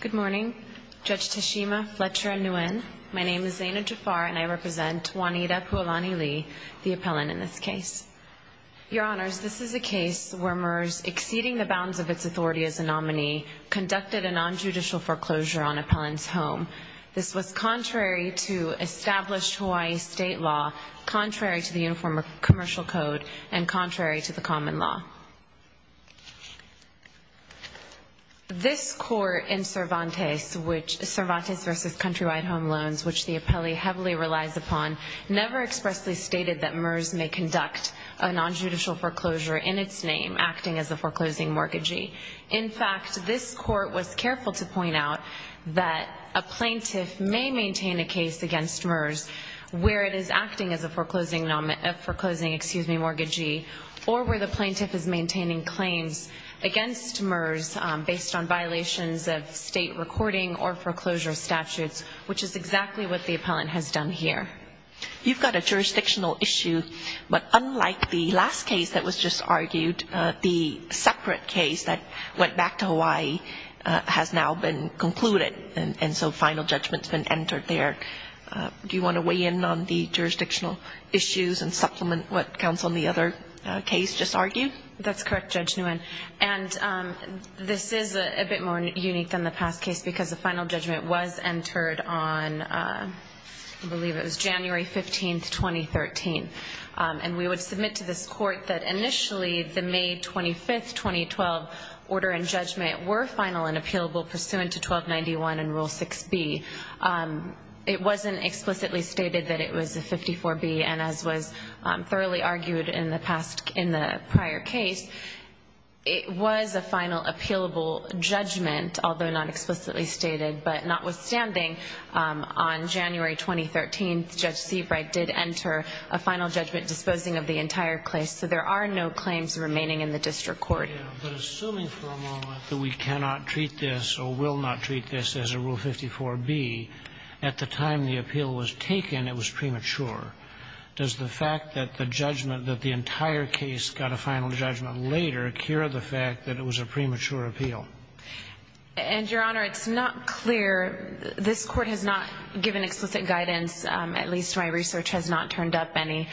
Good morning. Judge Tashima Fletcher-Nguyen. My name is Zaina Jafar and I represent Juanita Puolani Lee, the appellant in this case. Your Honors, this is a case where MERS, exceeding the bounds of its authority as a nominee, conducted a non-judicial foreclosure on appellant's home. This was contrary to established Hawaii state law, contrary to This court in Cervantes, Cervantes v. Countrywide Home Loans, which the appellee heavily relies upon, never expressly stated that MERS may conduct a non-judicial foreclosure in its name, acting as a foreclosing mortgagee. In fact, this court was careful to point out that a plaintiff may maintain a case against MERS where it is acting as a foreclosing mortgagee or where the plaintiff is maintaining claims against MERS based on violations of state recording or foreclosure statutes, which is exactly what the appellant has done here. You've got a jurisdictional issue, but unlike the last case that was just argued, the separate case that went back to Hawaii has now been concluded, and so final judgment's been entered there. Do you want to weigh in on the jurisdictional issues and supplement what counsel and the other case just argued? That's correct, Judge Nguyen. And this is a bit more unique than the past case because the final judgment was entered on, I believe it was January 15, 2013. And we would submit to this court that initially the May 25, 2012 order and judgment were final and appealable pursuant to 1291 and Rule 6b. It wasn't explicitly stated that it was a 54b, and as was thoroughly argued in the past, in the prior case, it was a final appealable judgment, although not explicitly stated, but notwithstanding, on January 2013, Judge Seabright did enter a final judgment disposing of the entire case, so there are no claims remaining in the district court. But assuming for a moment that we cannot treat this or will not treat this as a Rule 54b, at the time the appeal was taken, it was premature, does the fact that the judgment that the entire case got a final judgment later cure the fact that it was a premature appeal? And, Your Honor, it's not clear. This Court has not given explicit guidance, at least my research has not turned up any,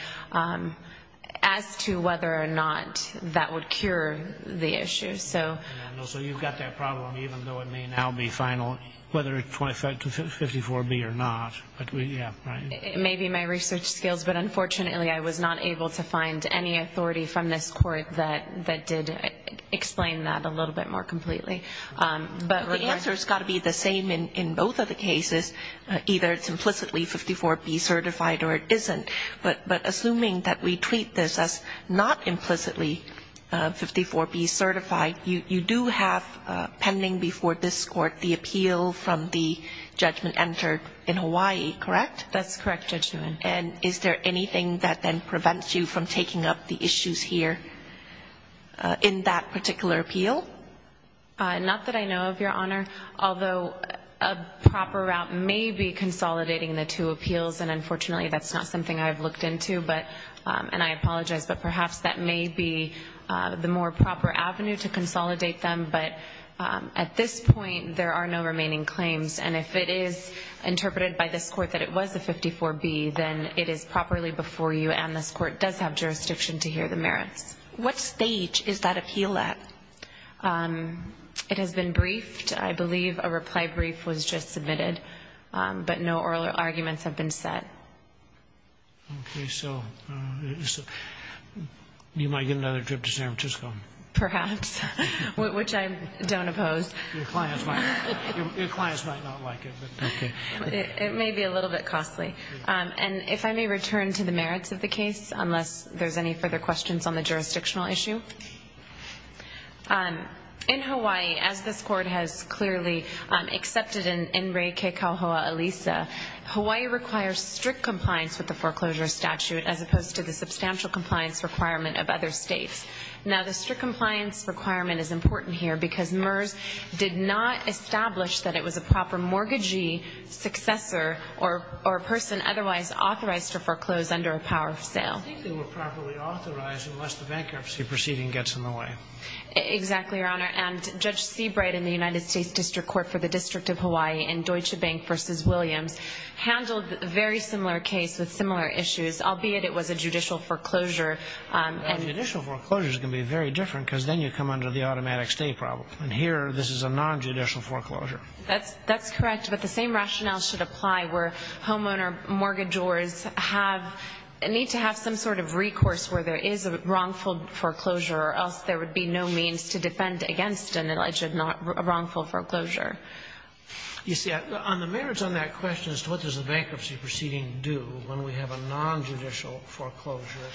as to whether or not that would cure the issue. So you've got that problem, even though it may now be final, whether it's 54b or not. Maybe my research skills, but unfortunately I was not able to find any authority from this Court that did explain that a little bit more completely. But the answer has got to be the same in both of the cases. Either it's implicitly 54b certified or it isn't. But assuming that we treat this as not implicitly 54b certified, you do have pending before this Court the appeal from the judgment entered in Hawaii, correct? That's correct, Judge Newman. And is there anything that then prevents you from taking up the issues here in that particular appeal? Not that I know of, Your Honor. Although a proper route may be consolidating the two appeals, and unfortunately that's not something I've looked into, and I apologize, but perhaps that may be the more proper avenue to consolidate them. But at this point, there are no remaining claims, and if it is interpreted by this Court that it was a 54b, then it is properly before you and this Court does have jurisdiction to hear the merits. What stage is that appeal at? It has been briefed. I believe a reply brief was just submitted, but no oral arguments have been set. Okay, so you might get another trip to San Francisco. Perhaps, which I don't oppose. Your clients might not like it. It may be a little bit costly. And if I may return to the merits of the case, unless there's any further questions on the jurisdictional issue. In Hawaii, as this Court has clearly accepted in Rei Kekauhoa Alisa, Hawaii requires strict compliance with the foreclosure statute as opposed to the substantial compliance requirement of other states. Now, the strict compliance requirement is important here because MERS did not establish that it was a proper mortgagee, successor, or a person otherwise authorized to foreclose under a power of sale. I think they were properly authorized unless the bankruptcy proceeding gets in the way. Exactly, Your Honor. And Judge Seabright in the United States District Court for the District of Hawaii in Deutsche Bank v. Williams handled a very similar case with similar issues, albeit it was a judicial foreclosure. Now, judicial foreclosure is going to be very different because then you come under the automatic stay problem. And here, this is a nonjudicial foreclosure. That's correct. But the same rationale should apply where homeowner mortgagors need to have some sort of recourse where there is a wrongful foreclosure or else there would be no means to defend against an alleged wrongful foreclosure. You see, on the merits on that question as to what does a bankruptcy proceeding do when we have a nonjudicial foreclosure,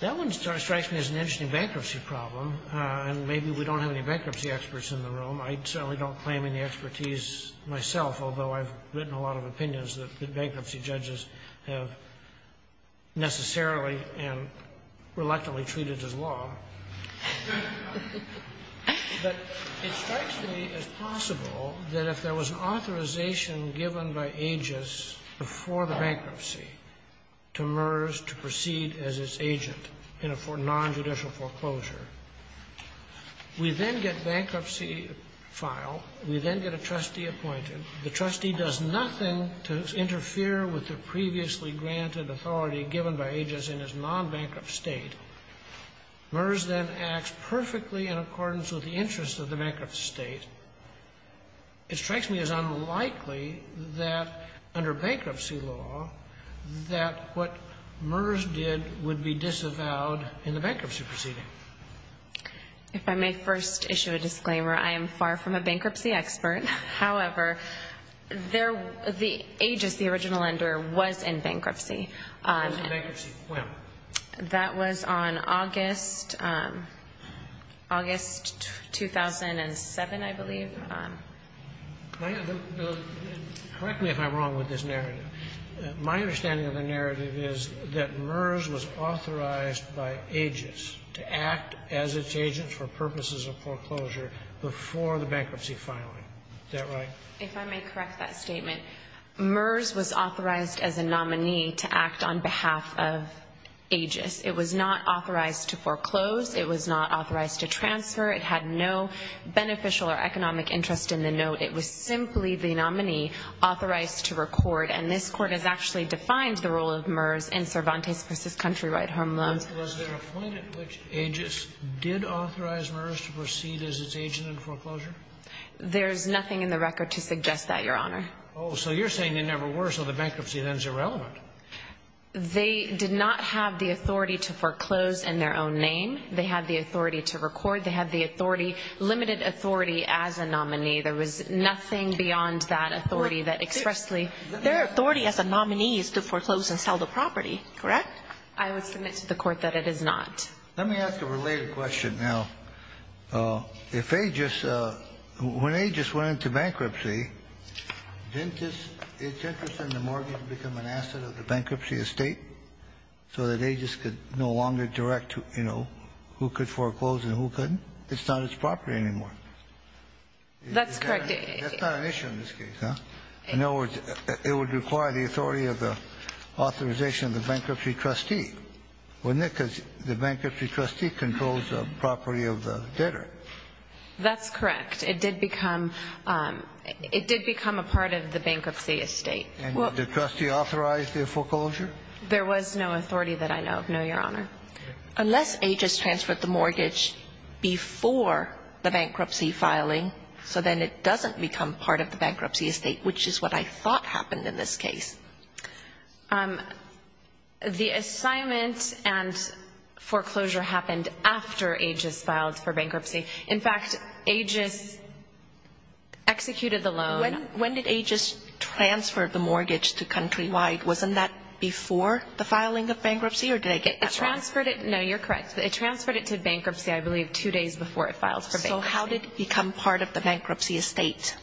that one strikes me as an interesting bankruptcy problem. And maybe we don't have any bankruptcy experts in the room. I certainly don't claim any expertise myself, although I've written a lot of opinions that bankruptcy judges have necessarily and reluctantly treated as law. But it strikes me as possible that if there was an authorization given by AGIS before the bankruptcy to MERS to proceed as its agent in a nonjudicial foreclosure, we then get bankruptcy file, we then get a trustee appointed. The trustee does nothing to interfere with the previously granted authority given by AGIS in its nonbankrupt state. MERS then acts perfectly in accordance with the interests of the bankrupt state. It strikes me as unlikely that under bankruptcy law that what MERS did would be disavowed in the bankruptcy proceeding. If I may first issue a disclaimer, I am far from a bankruptcy expert. However, the AGIS, the original lender, was in bankruptcy. It was in bankruptcy when? That was on August 2007, I believe. Correct me if I'm wrong with this narrative. My understanding of the narrative is that MERS was authorized by AGIS to act as its agent for purposes of foreclosure before the bankruptcy filing. Is that right? If I may correct that statement, MERS was authorized as a nominee to act on behalf of AGIS. It was not authorized to foreclose. It was not authorized to transfer. It had no beneficial or economic interest in the note. It was simply the nominee authorized to record. And this Court has actually defined the role of MERS in Cervantes v. Country Right Home Loans. Was there a point at which AGIS did authorize MERS to proceed as its agent in foreclosure? There's nothing in the record to suggest that, Your Honor. Oh, so you're saying they never were, so the bankruptcy then is irrelevant. They did not have the authority to foreclose in their own name. They had the authority to record. They had the authority, limited authority, as a nominee. There was nothing beyond that authority that expressly ---- Their authority as a nominee is to foreclose and sell the property, correct? I would submit to the Court that it is not. Let me ask a related question now. If AGIS ---- when AGIS went into bankruptcy, didn't this ---- did AGIS send the mortgage to become an asset of the bankruptcy estate so that AGIS could no longer direct, you know, who could foreclose and who couldn't? It's not its property anymore. That's correct. That's not an issue in this case, huh? In other words, it would require the authority of the authorization of the bankruptcy trustee, wouldn't it? Because the bankruptcy trustee controls the property of the debtor. That's correct. It did become ---- it did become a part of the bankruptcy estate. And did the trustee authorize the foreclosure? There was no authority that I know of, no, Your Honor. Unless AGIS transferred the mortgage before the bankruptcy filing, so then it doesn't become part of the bankruptcy estate, which is what I thought happened in this case. The assignment and foreclosure happened after AGIS filed for bankruptcy. In fact, AGIS executed the loan. When did AGIS transfer the mortgage to Countrywide? Wasn't that before the filing of bankruptcy? Or did I get that wrong? It transferred it. No, you're correct. It transferred it to bankruptcy, I believe, two days before it filed for bankruptcy. So how did it become part of the bankruptcy estate?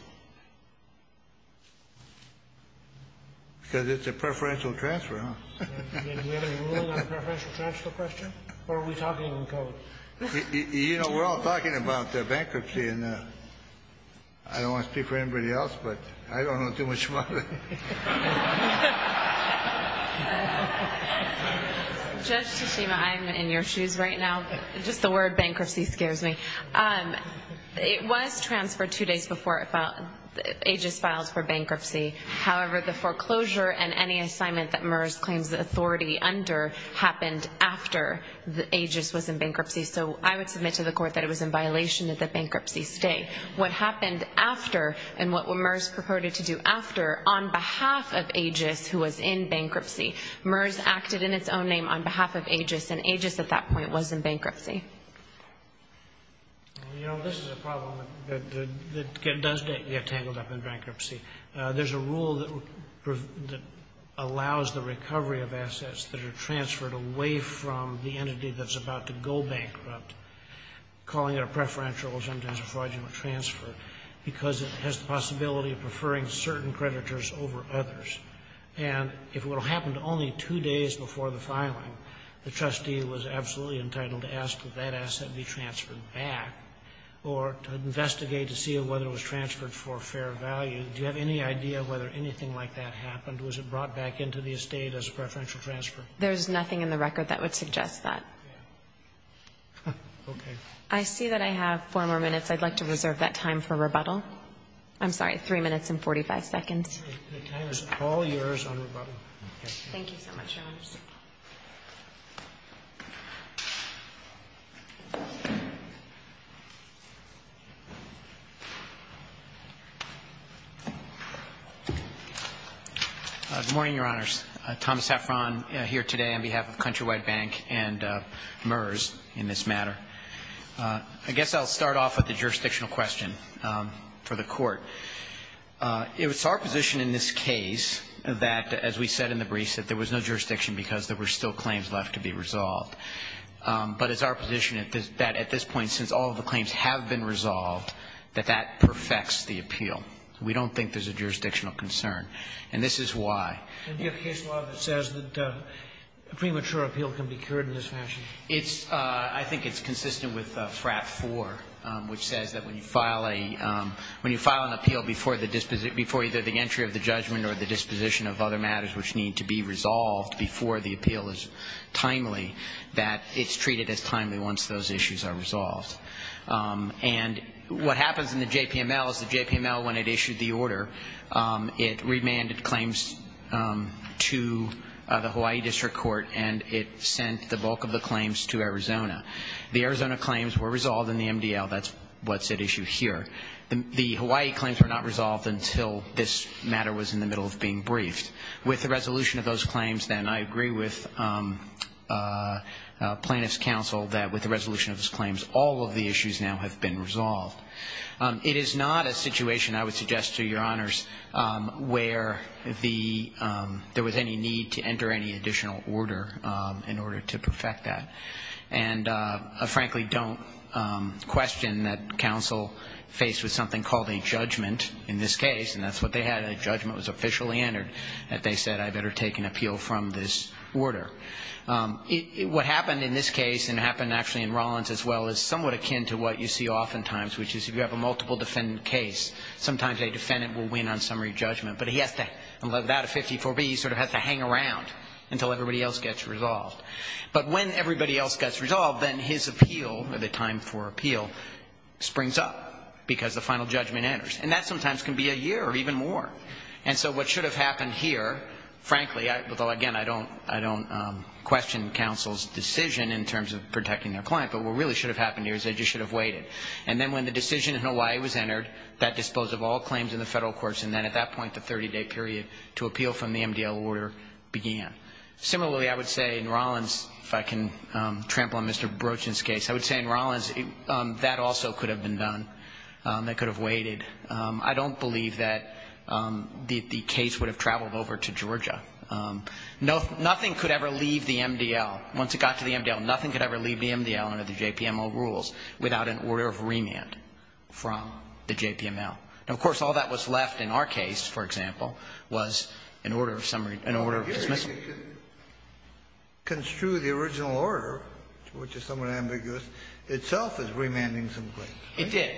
Because it's a preferential transfer, huh? Do we have a rule on preferential transfer questions? Or are we talking in code? You know, we're all talking about bankruptcy, and I don't want to speak for anybody else, but I don't know too much about it. Judge Tsushima, I'm in your shoes right now. Just the word bankruptcy scares me. It was transferred two days before AGIS filed for bankruptcy. However, the foreclosure and any assignment that MERS claims authority under happened after AGIS was in bankruptcy. So I would submit to the Court that it was in violation of the bankruptcy estate. What happened after, and what MERS purported to do after, on behalf of AGIS, who was in bankruptcy, MERS acted in its own name on behalf of AGIS, and AGIS at that point was in bankruptcy. You know, this is a problem that does get tangled up in bankruptcy. There's a rule that allows the recovery of assets that are transferred away from the because it has the possibility of preferring certain creditors over others. And if it would have happened only two days before the filing, the trustee was absolutely entitled to ask that that asset be transferred back, or to investigate to see whether it was transferred for fair value. Do you have any idea whether anything like that happened? Was it brought back into the estate as a preferential transfer? There's nothing in the record that would suggest that. Okay. I see that I have four more minutes. I'd like to reserve that time for rebuttal. I'm sorry, three minutes and 45 seconds. The time is all yours on rebuttal. Thank you so much, Your Honors. Good morning, Your Honors. Thomas Heffron here today on behalf of Countrywide Bank and MERS in this matter. I guess I'll start off with a jurisdictional question for the Court. It's our position in this case that, as we said in the briefs, that there was no jurisdiction because there were still claims left to be resolved. But it's our position that at this point, since all of the claims have been resolved, that that perfects the appeal. We don't think there's a jurisdictional concern. And this is why. Can you give a case law that says that premature appeal can be cured in this fashion? I think it's consistent with FRAP 4, which says that when you file an appeal before either the entry of the judgment or the disposition of other matters which need to be resolved before the appeal is timely, that it's treated as timely once those issues are resolved. And what happens in the JPML is the JPML, when it issued the order, it remanded claims to the Hawaii District Court and it sent the bulk of the claims to Arizona. The Arizona claims were resolved in the MDL. That's what's at issue here. The Hawaii claims were not resolved until this matter was in the middle of being briefed. With the resolution of those claims then, I agree with plaintiff's counsel that with the resolution of those claims, all of the issues now have been resolved. It is not a situation, I would suggest to Your Honors, where there was any need to enter any additional order in order to perfect that. And I frankly don't question that counsel faced with something called a judgment in this case, and that's what they had. A judgment was officially entered that they said, I better take an appeal from this order. What happened in this case, and it happened actually in Rollins as well, is somewhat akin to what you see oftentimes, which is if you have a multiple defendant case, sometimes a defendant will win on summary judgment, but he has to, without a 54B, he sort of has to hang around until everybody else gets resolved. But when everybody else gets resolved, then his appeal, or the time for appeal, springs up because the final judgment enters. And that sometimes can be a year or even more. And so what should have happened here, frankly, although again I don't question counsel's decision in terms of protecting their client, but what really should have happened here is they just should have waited. And then when the decision in Hawaii was entered, that disposed of all claims in the federal courts, and then at that point the 30-day period to appeal from the MDL order began. Similarly, I would say in Rollins, if I can trample on Mr. Brochin's case, I would say in Rollins that also could have been done. That could have waited. I don't believe that the case would have traveled over to Georgia. Nothing could ever leave the MDL. Once it got to the MDL, nothing could ever leave the MDL under the JPMO rules without an order of remand from the JPML. Now, of course, all that was left in our case, for example, was an order of dismissal. Kennedy. Construe the original order, which is somewhat ambiguous, itself is remanding some claims. It did.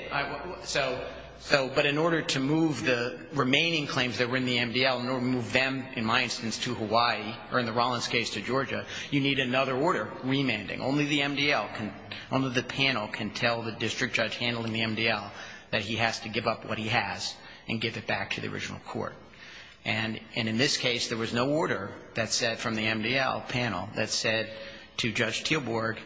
So, but in order to move the remaining claims that were in the MDL, in order to move them, in my instance, to Hawaii, or in the Rollins case to Georgia, you need another order remanding. Only the MDL can, only the panel can tell the district judge handling the MDL that he has to give up what he has and give it back to the original court. And in this case, there was no order that said, from the MDL panel, that said to Judge Teelborg,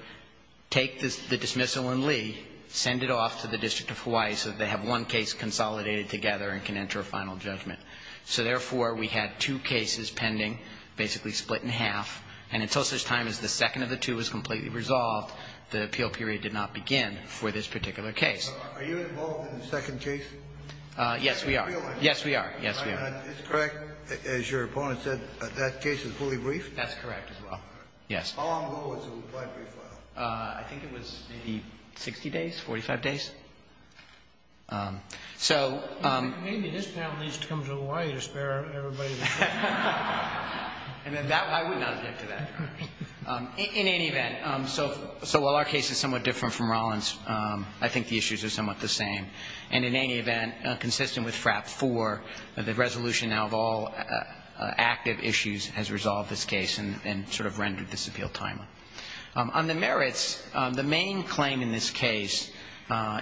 take the dismissal in Lee, send it off to the District of Hawaii so that they have one case consolidated together and can enter a final judgment. So, therefore, we had two cases pending, basically split in half. And until such time as the second of the two was completely resolved, the appeal period did not begin for this particular case. Are you involved in the second case? Yes, we are. Yes, we are. Yes, we are. Is it correct, as your opponent said, that that case is fully briefed? That's correct as well. Yes. How long ago was the reply brief filed? I think it was maybe 60 days, 45 days. Maybe this panel needs to come to Hawaii to spare everybody the trouble. And I would not object to that. In any event, so while our case is somewhat different from Rollins, I think the issues are somewhat the same. And in any event, consistent with FRAP 4, the resolution now of all active issues has resolved this case and sort of rendered this appeal timely. On the merits, the main claim in this case,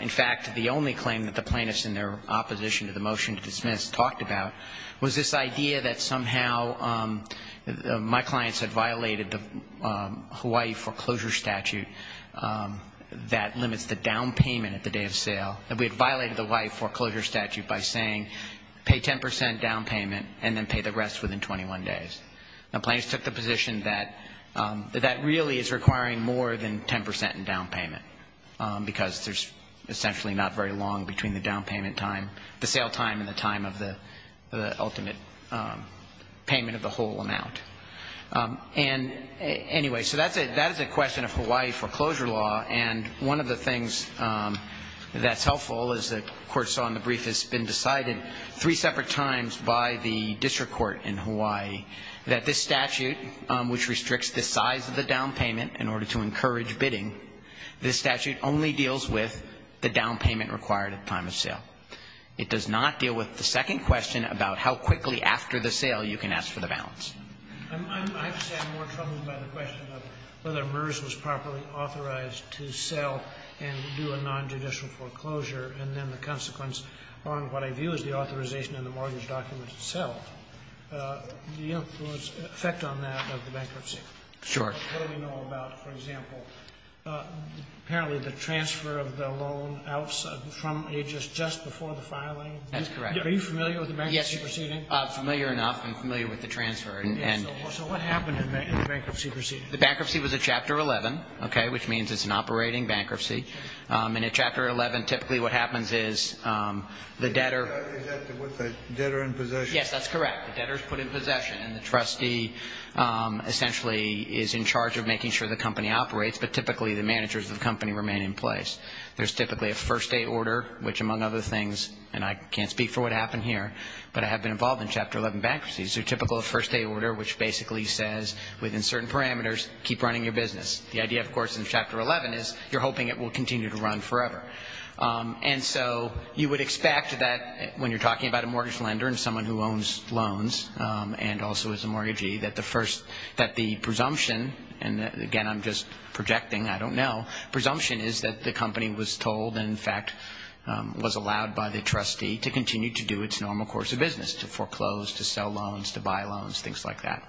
in fact the only claim that the plaintiffs in their opposition to the motion to dismiss talked about, was this idea that somehow my clients had violated the Hawaii foreclosure statute that limits the down payment at the day of sale, that we had violated the Hawaii foreclosure statute by saying pay 10 percent down payment and then pay the rest within 21 days. The plaintiffs took the position that that really is requiring more than 10 percent in down payment because there's essentially not very long between the down payment time, the sale time and the time of the ultimate payment of the whole amount. And anyway, so that is a question of Hawaii foreclosure law. And one of the things that's helpful is the court saw in the brief has been decided three separate times by the district court in Hawaii that this statute, which restricts the size of the down payment in order to encourage bidding, this statute only deals with the down payment required at the time of sale. It does not deal with the second question about how quickly after the sale you can Sotomayor, I have to say I'm more troubled by the question of whether MERS was properly authorized to sell and do a nonjudicial foreclosure and then the consequence on what I view as the authorization in the mortgage document itself. Do you have an effect on that of the bankruptcy? Sure. What do we know about, for example, apparently the transfer of the loan from HS just before the filing? That's correct. Are you familiar with the bankruptcy proceeding? Familiar enough and familiar with the transfer. So what happened in the bankruptcy proceeding? The bankruptcy was a Chapter 11, which means it's an operating bankruptcy. In a Chapter 11, typically what happens is the debtor Is that with the debtor in possession? Yes, that's correct. The debtor is put in possession and the trustee essentially is in charge of making sure the company operates, but typically the managers of the company remain in place. There's typically a first day order, which among other things, and I can't speak for what happened here, but I have been involved in Chapter 11 bankruptcy. So typical first day order, which basically says within certain parameters, keep running your business. The idea, of course, in Chapter 11 is you're hoping it will continue to run forever. And so you would expect that when you're talking about a mortgage lender and someone who owns loans and also is a mortgagee, that the presumption, and again I'm just projecting, I don't know, presumption is that the company was told and, in fact, was allowed by the trustee to continue to do its normal course of business, to foreclose, to sell loans, to buy loans, things like that.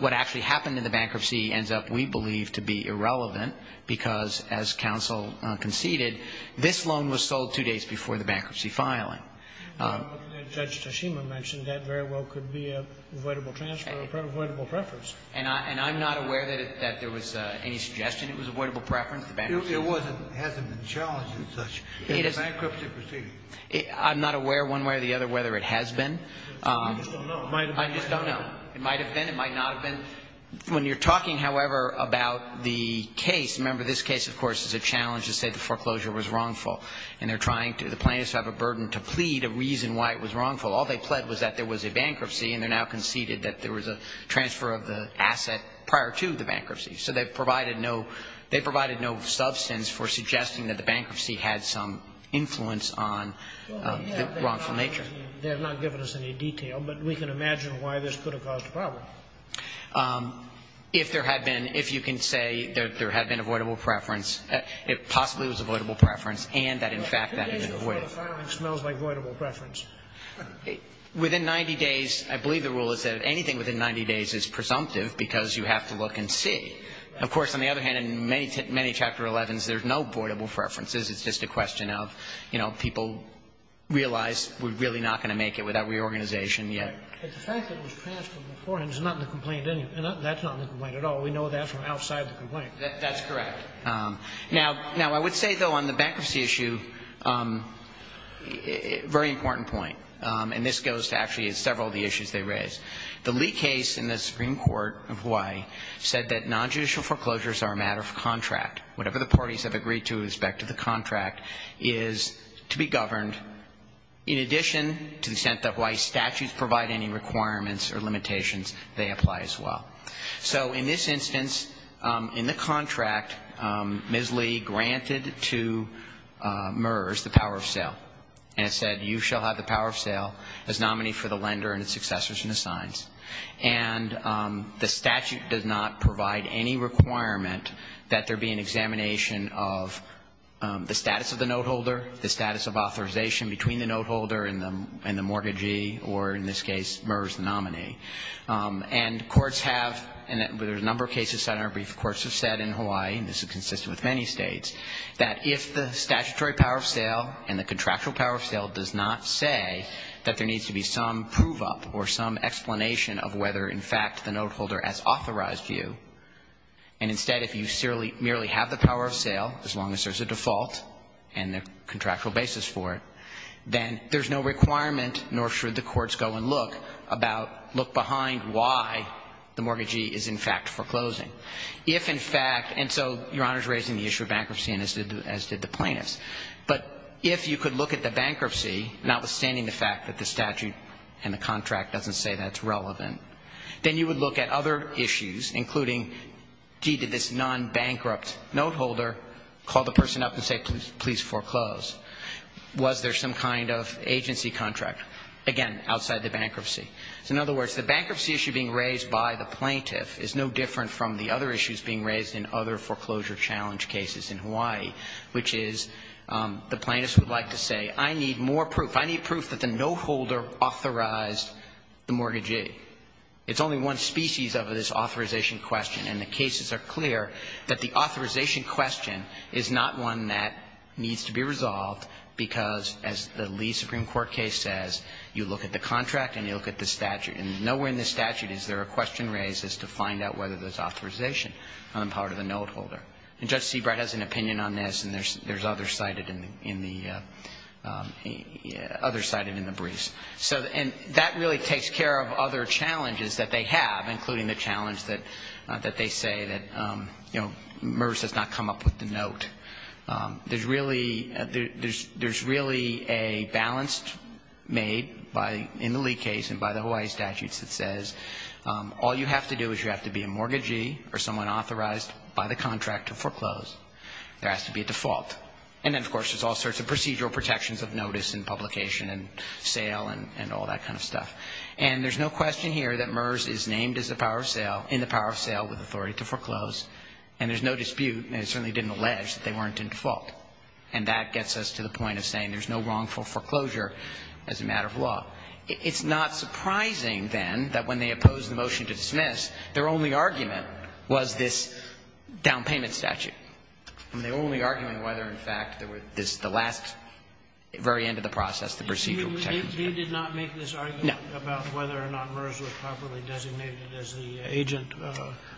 What actually happened in the bankruptcy ends up, we believe, to be irrelevant because, as counsel conceded, this loan was sold two days before the bankruptcy filing. Judge Toshima mentioned that very well could be an avoidable transfer, avoidable preference. And I'm not aware that there was any suggestion it was avoidable preference. It wasn't. It hasn't been challenged as such. In a bankruptcy proceeding. I'm not aware one way or the other whether it has been. I just don't know. It might have been. I just don't know. It might have been. It might not have been. When you're talking, however, about the case, remember this case, of course, is a challenge to say the foreclosure was wrongful. And they're trying to, the plaintiffs have a burden to plead a reason why it was wrongful. All they pled was that there was a bankruptcy, and they're now conceded that there was a transfer of the asset prior to the bankruptcy. So they've provided no substance for suggesting that the bankruptcy had some influence on the wrongful nature. They have not given us any detail, but we can imagine why this could have caused a problem. If there had been, if you can say that there had been avoidable preference, it possibly was avoidable preference, and that, in fact, that had been avoided. The case before the filing smells like avoidable preference. Within 90 days, I believe the rule is that anything within 90 days is presumptive because you have to look and see. Of course, on the other hand, in many, many Chapter 11s, there's no avoidable preferences. It's just a question of, you know, people realize we're really not going to make it without reorganization yet. But the fact that it was transferred beforehand is not in the complaint anyway. That's not in the complaint at all. We know that from outside the complaint. That's correct. Now, I would say, though, on the bankruptcy issue, very important point, and this goes to actually several of the issues they raised. The Lee case in the Supreme Court of Hawaii said that nonjudicial foreclosures are a matter of contract. Whatever the parties have agreed to with respect to the contract is to be governed In addition to the extent that Hawaii statutes provide any requirements or limitations, they apply as well. So in this instance, in the contract, Ms. Lee granted to MERS the power of sale and said, you shall have the power of sale as nominee for the lender and its successors and assigns. And the statute does not provide any requirement that there be an examination of the status of the noteholder, the status of authorization between the noteholder and the mortgagee, or in this case, MERS nominee. And courts have, and there's a number of cases cited in our brief, courts have said in Hawaii, and this is consistent with many states, that if the statutory power of sale and the contractual power of sale does not say that there needs to be some prove-up or some explanation of whether, in fact, the noteholder has default and the contractual basis for it, then there's no requirement, nor should the courts go and look, about, look behind why the mortgagee is, in fact, foreclosing. If, in fact, and so Your Honor's raising the issue of bankruptcy, as did the plaintiffs. But if you could look at the bankruptcy, notwithstanding the fact that the statute and the contract doesn't say that it's relevant, then you would look at other person up and say, please foreclose. Was there some kind of agency contract? Again, outside the bankruptcy. So in other words, the bankruptcy issue being raised by the plaintiff is no different from the other issues being raised in other foreclosure challenge cases in Hawaii, which is the plaintiffs would like to say, I need more proof. I need proof that the noteholder authorized the mortgagee. It's only one species of this authorization question, and the cases are clear that the authorization question is not one that needs to be resolved because, as the Lee Supreme Court case says, you look at the contract and you look at the statute. Nowhere in the statute is there a question raised as to find out whether there's authorization on the part of the noteholder. And Judge Seabright has an opinion on this, and there's others cited in the briefs. And that really takes care of other challenges that they have, including the challenge that they say that, you know, MERS does not come up with the note. There's really a balance made in the Lee case and by the Hawaii statutes that says all you have to do is you have to be a mortgagee or someone authorized by the contract to foreclose. There has to be a default. And then, of course, there's all sorts of procedural protections of notice and publication and sale and all that kind of stuff. And there's no question here that MERS is named as a power of sale, in the power of sale, with authority to foreclose. And there's no dispute, and it certainly didn't allege, that they weren't in default. And that gets us to the point of saying there's no wrongful foreclosure as a matter of law. It's not surprising, then, that when they opposed the motion to dismiss, their only argument was this down payment statute. I mean, their only argument was whether, in fact, there were the last very end of the process, the procedural protections. Kennedy did not make this argument about whether or not MERS was properly designated as the agent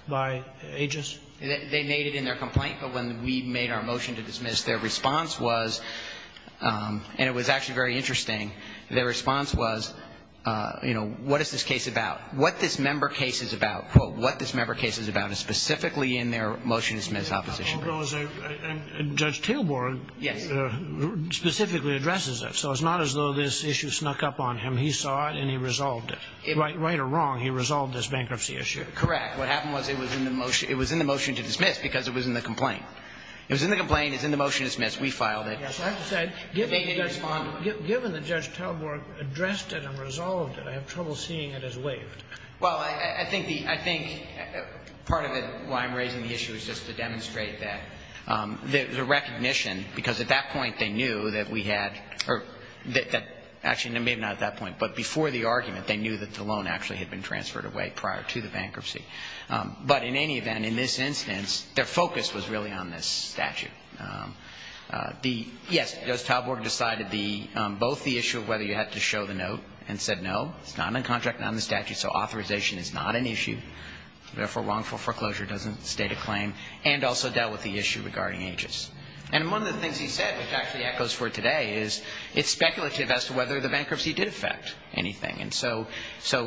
by AGIS? They made it in their complaint, but when we made our motion to dismiss, their response was, and it was actually very interesting, their response was, you know, what is this case about? What this member case is about, quote, what this member case is about, is specifically in their motion to dismiss opposition. And Judge Taylor specifically addresses that. So it's not as though this issue snuck up on him. He saw it, and he resolved it. Right or wrong, he resolved this bankruptcy issue. Correct. What happened was it was in the motion to dismiss because it was in the complaint. It was in the complaint. It was in the motion to dismiss. We filed it. Yes. I have to say, given that Judge Talborg addressed it and resolved it, I have trouble seeing it as waived. Well, I think part of it, why I'm raising the issue, is just to demonstrate that there was a recognition, because at that point they knew that we had, or actually maybe not at that point, but before the argument, they knew that the loan actually had been transferred away prior to the bankruptcy. But in any event, in this instance, their focus was really on this statute. Yes, Judge Talborg decided both the issue of whether you had to show the note and said no, it's not in contract, not in the statute, so authorization is not an issue, therefore, wrongful foreclosure doesn't state a claim, and also dealt with the issue regarding Aegis. And one of the things he said, which actually echoes for today, is it's speculative as to whether the bankruptcy did affect anything. And so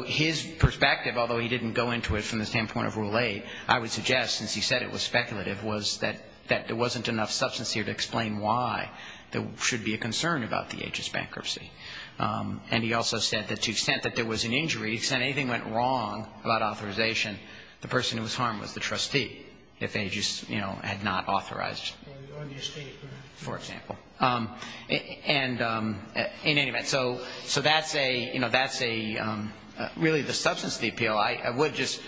his perspective, although he didn't go into it from the standpoint of Rule 8, I would suggest, since he said it was speculative, was that there wasn't enough substance here to explain why there should be a concern about the Aegis bankruptcy. And he also said that to the extent that there was an injury, to the extent anything went wrong about authorization, the person who was harmed was the trustee if they just, you know, had not authorized. On the estate, perhaps. For example. And in any event, so that's a, you know, that's a, really the substance of the appeal. I would just,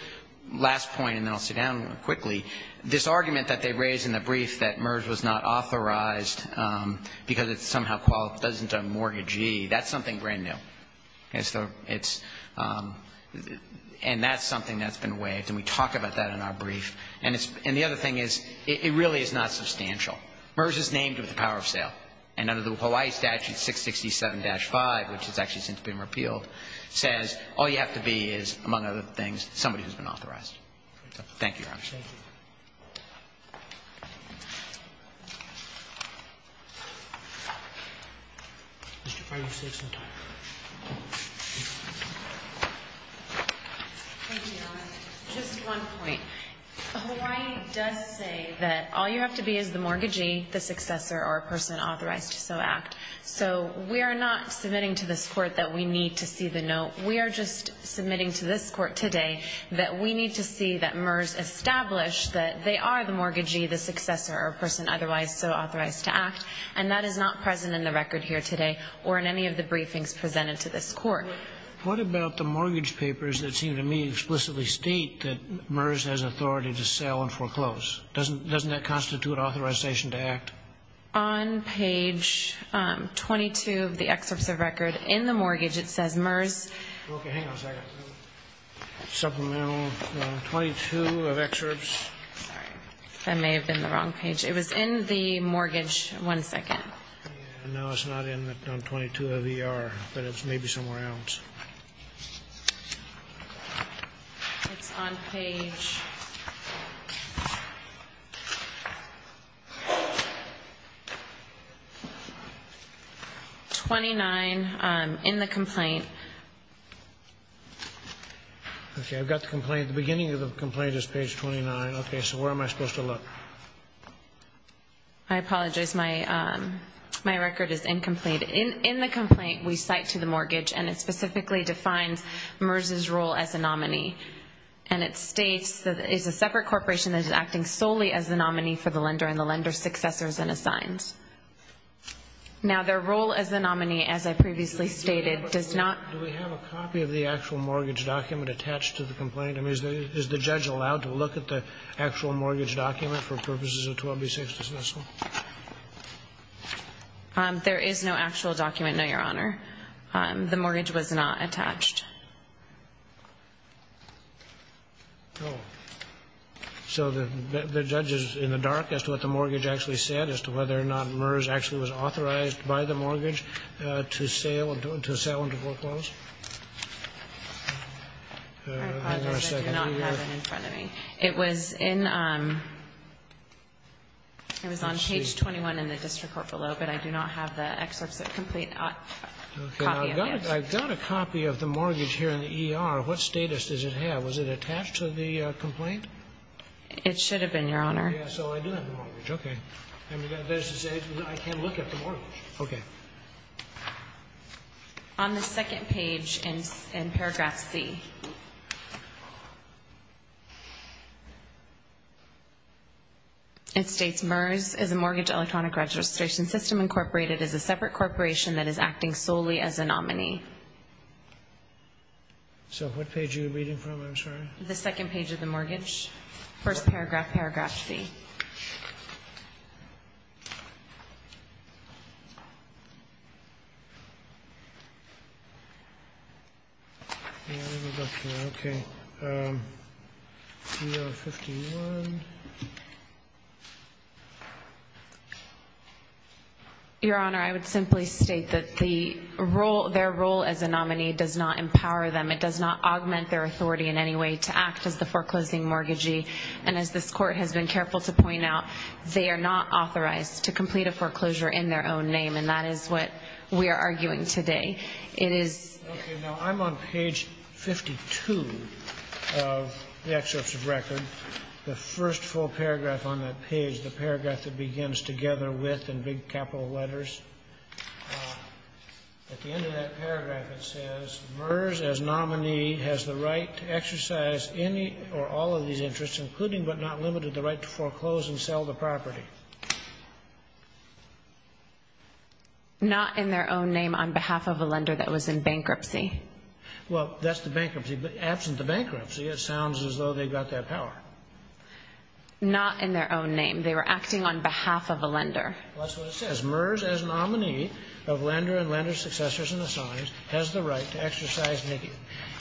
last point, and then I'll sit down quickly. This argument that they raised in the brief that MERS was not authorized because it's somehow qualifies as a mortgagee, that's something brand new. And so it's, and that's something that's been waived. And we talk about that in our brief. And it's, and the other thing is, it really is not substantial. MERS is named with the power of sale. And under the Hawaii statute 667-5, which has actually since been repealed, says all you have to be is, among other things, somebody who's been authorized. Thank you, Your Honor. Thank you, Your Honor. Just one point. Hawaii does say that all you have to be is the mortgagee, the successor, or a person authorized to so act. So we are not submitting to this court that we need to see the note. We are just submitting to this court today that we need to see that MERS We are not submitting to this court that MERS establishes the status quo. We establish that they are the mortgagee, the successor, or a person otherwise so authorized to act. And that is not present in the record here today or in any of the briefings presented to this court. What about the mortgage papers that seem to me explicitly state that MERS has authority to sell and foreclose? Doesn't that constitute authorization to act? On page 22 of the excerpts of record in the mortgage, it says MERS Okay, hang on a second. Supplemental 22 of excerpts. Sorry, that may have been the wrong page. It was in the mortgage. One second. No, it's not in 22 of ER, but it's maybe somewhere else. It's on page 29 in the complaint. Okay, I've got the complaint. The beginning of the complaint is page 29. Okay, so where am I supposed to look? I apologize. My record is incomplete. In the complaint, we cite to the mortgage, and it specifically defines MERS's role as a nominee. And it states that it's a separate corporation that is acting solely as the nominee for the lender and the lender's successors and assigns. Now, their role as a nominee, as I previously stated, does not Do we have a copy of the actual mortgage document attached to the complaint? I mean, is the judge allowed to look at the actual mortgage document for purposes of 12b-6 dismissal? There is no actual document, no, Your Honor. The mortgage was not attached. Oh. So the judge is in the dark as to what the mortgage actually said, as to whether or not MERS actually was authorized by the mortgage to sell and to foreclose? I apologize. I do not have it in front of me. It was on page 21 in the district court below, but I do not have the complete copy of it. I've got a copy of the mortgage here in the ER. What status does it have? Was it attached to the complaint? It should have been, Your Honor. So I do have the mortgage. Okay. I can look at the mortgage. Okay. On the second page in paragraph C, it states, MERS is a mortgage electronic registration system incorporated as a separate corporation that is acting solely as a nominee. So what page are you reading from? I'm sorry. The second page of the mortgage, first paragraph, paragraph C. Your Honor, I would simply state that their role as a nominee does not empower them. It does not augment their authority in any way to act as the foreclosing mortgagee. And as this court has been careful to point out, they are not authorized to complete a foreclosure in their own name, and that is what we are arguing today. It is. Okay. Now, I'm on page 52 of the excerpts of record. The first full paragraph on that page, the paragraph that begins, Together with, in big capital letters, at the end of that paragraph, it says, MERS, as nominee, has the right to exercise any or all of these interests, including but not limited, the right to foreclose and sell the property. Not in their own name on behalf of a lender that was in bankruptcy. Well, that's the bankruptcy. But absent the bankruptcy, it sounds as though they've got that power. Not in their own name. They were acting on behalf of a lender. Well, that's what it says. MERS, as nominee, of lender and lender's successors and assigns, has the right to exercise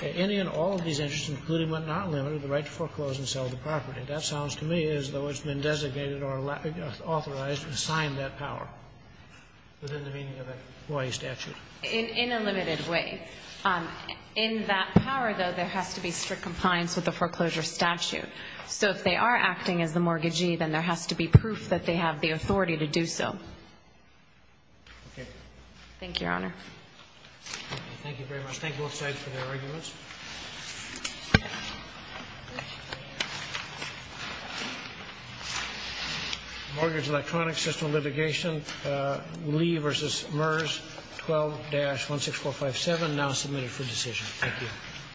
any and all of these interests, including but not limited, the right to foreclose and sell the property. That sounds to me as though it's been designated or authorized and signed that power within the meaning of a Hawaii statute. In a limited way. In that power, though, there has to be strict compliance with the foreclosure statute. So if they are acting as the mortgagee, then there has to be proof that they have the authority to do so. Thank you, Your Honor. Thank you very much. Thank both sides for their arguments. Mortgage electronic system litigation. Lee v. MERS 12-16457 now submitted for decision. Thank you.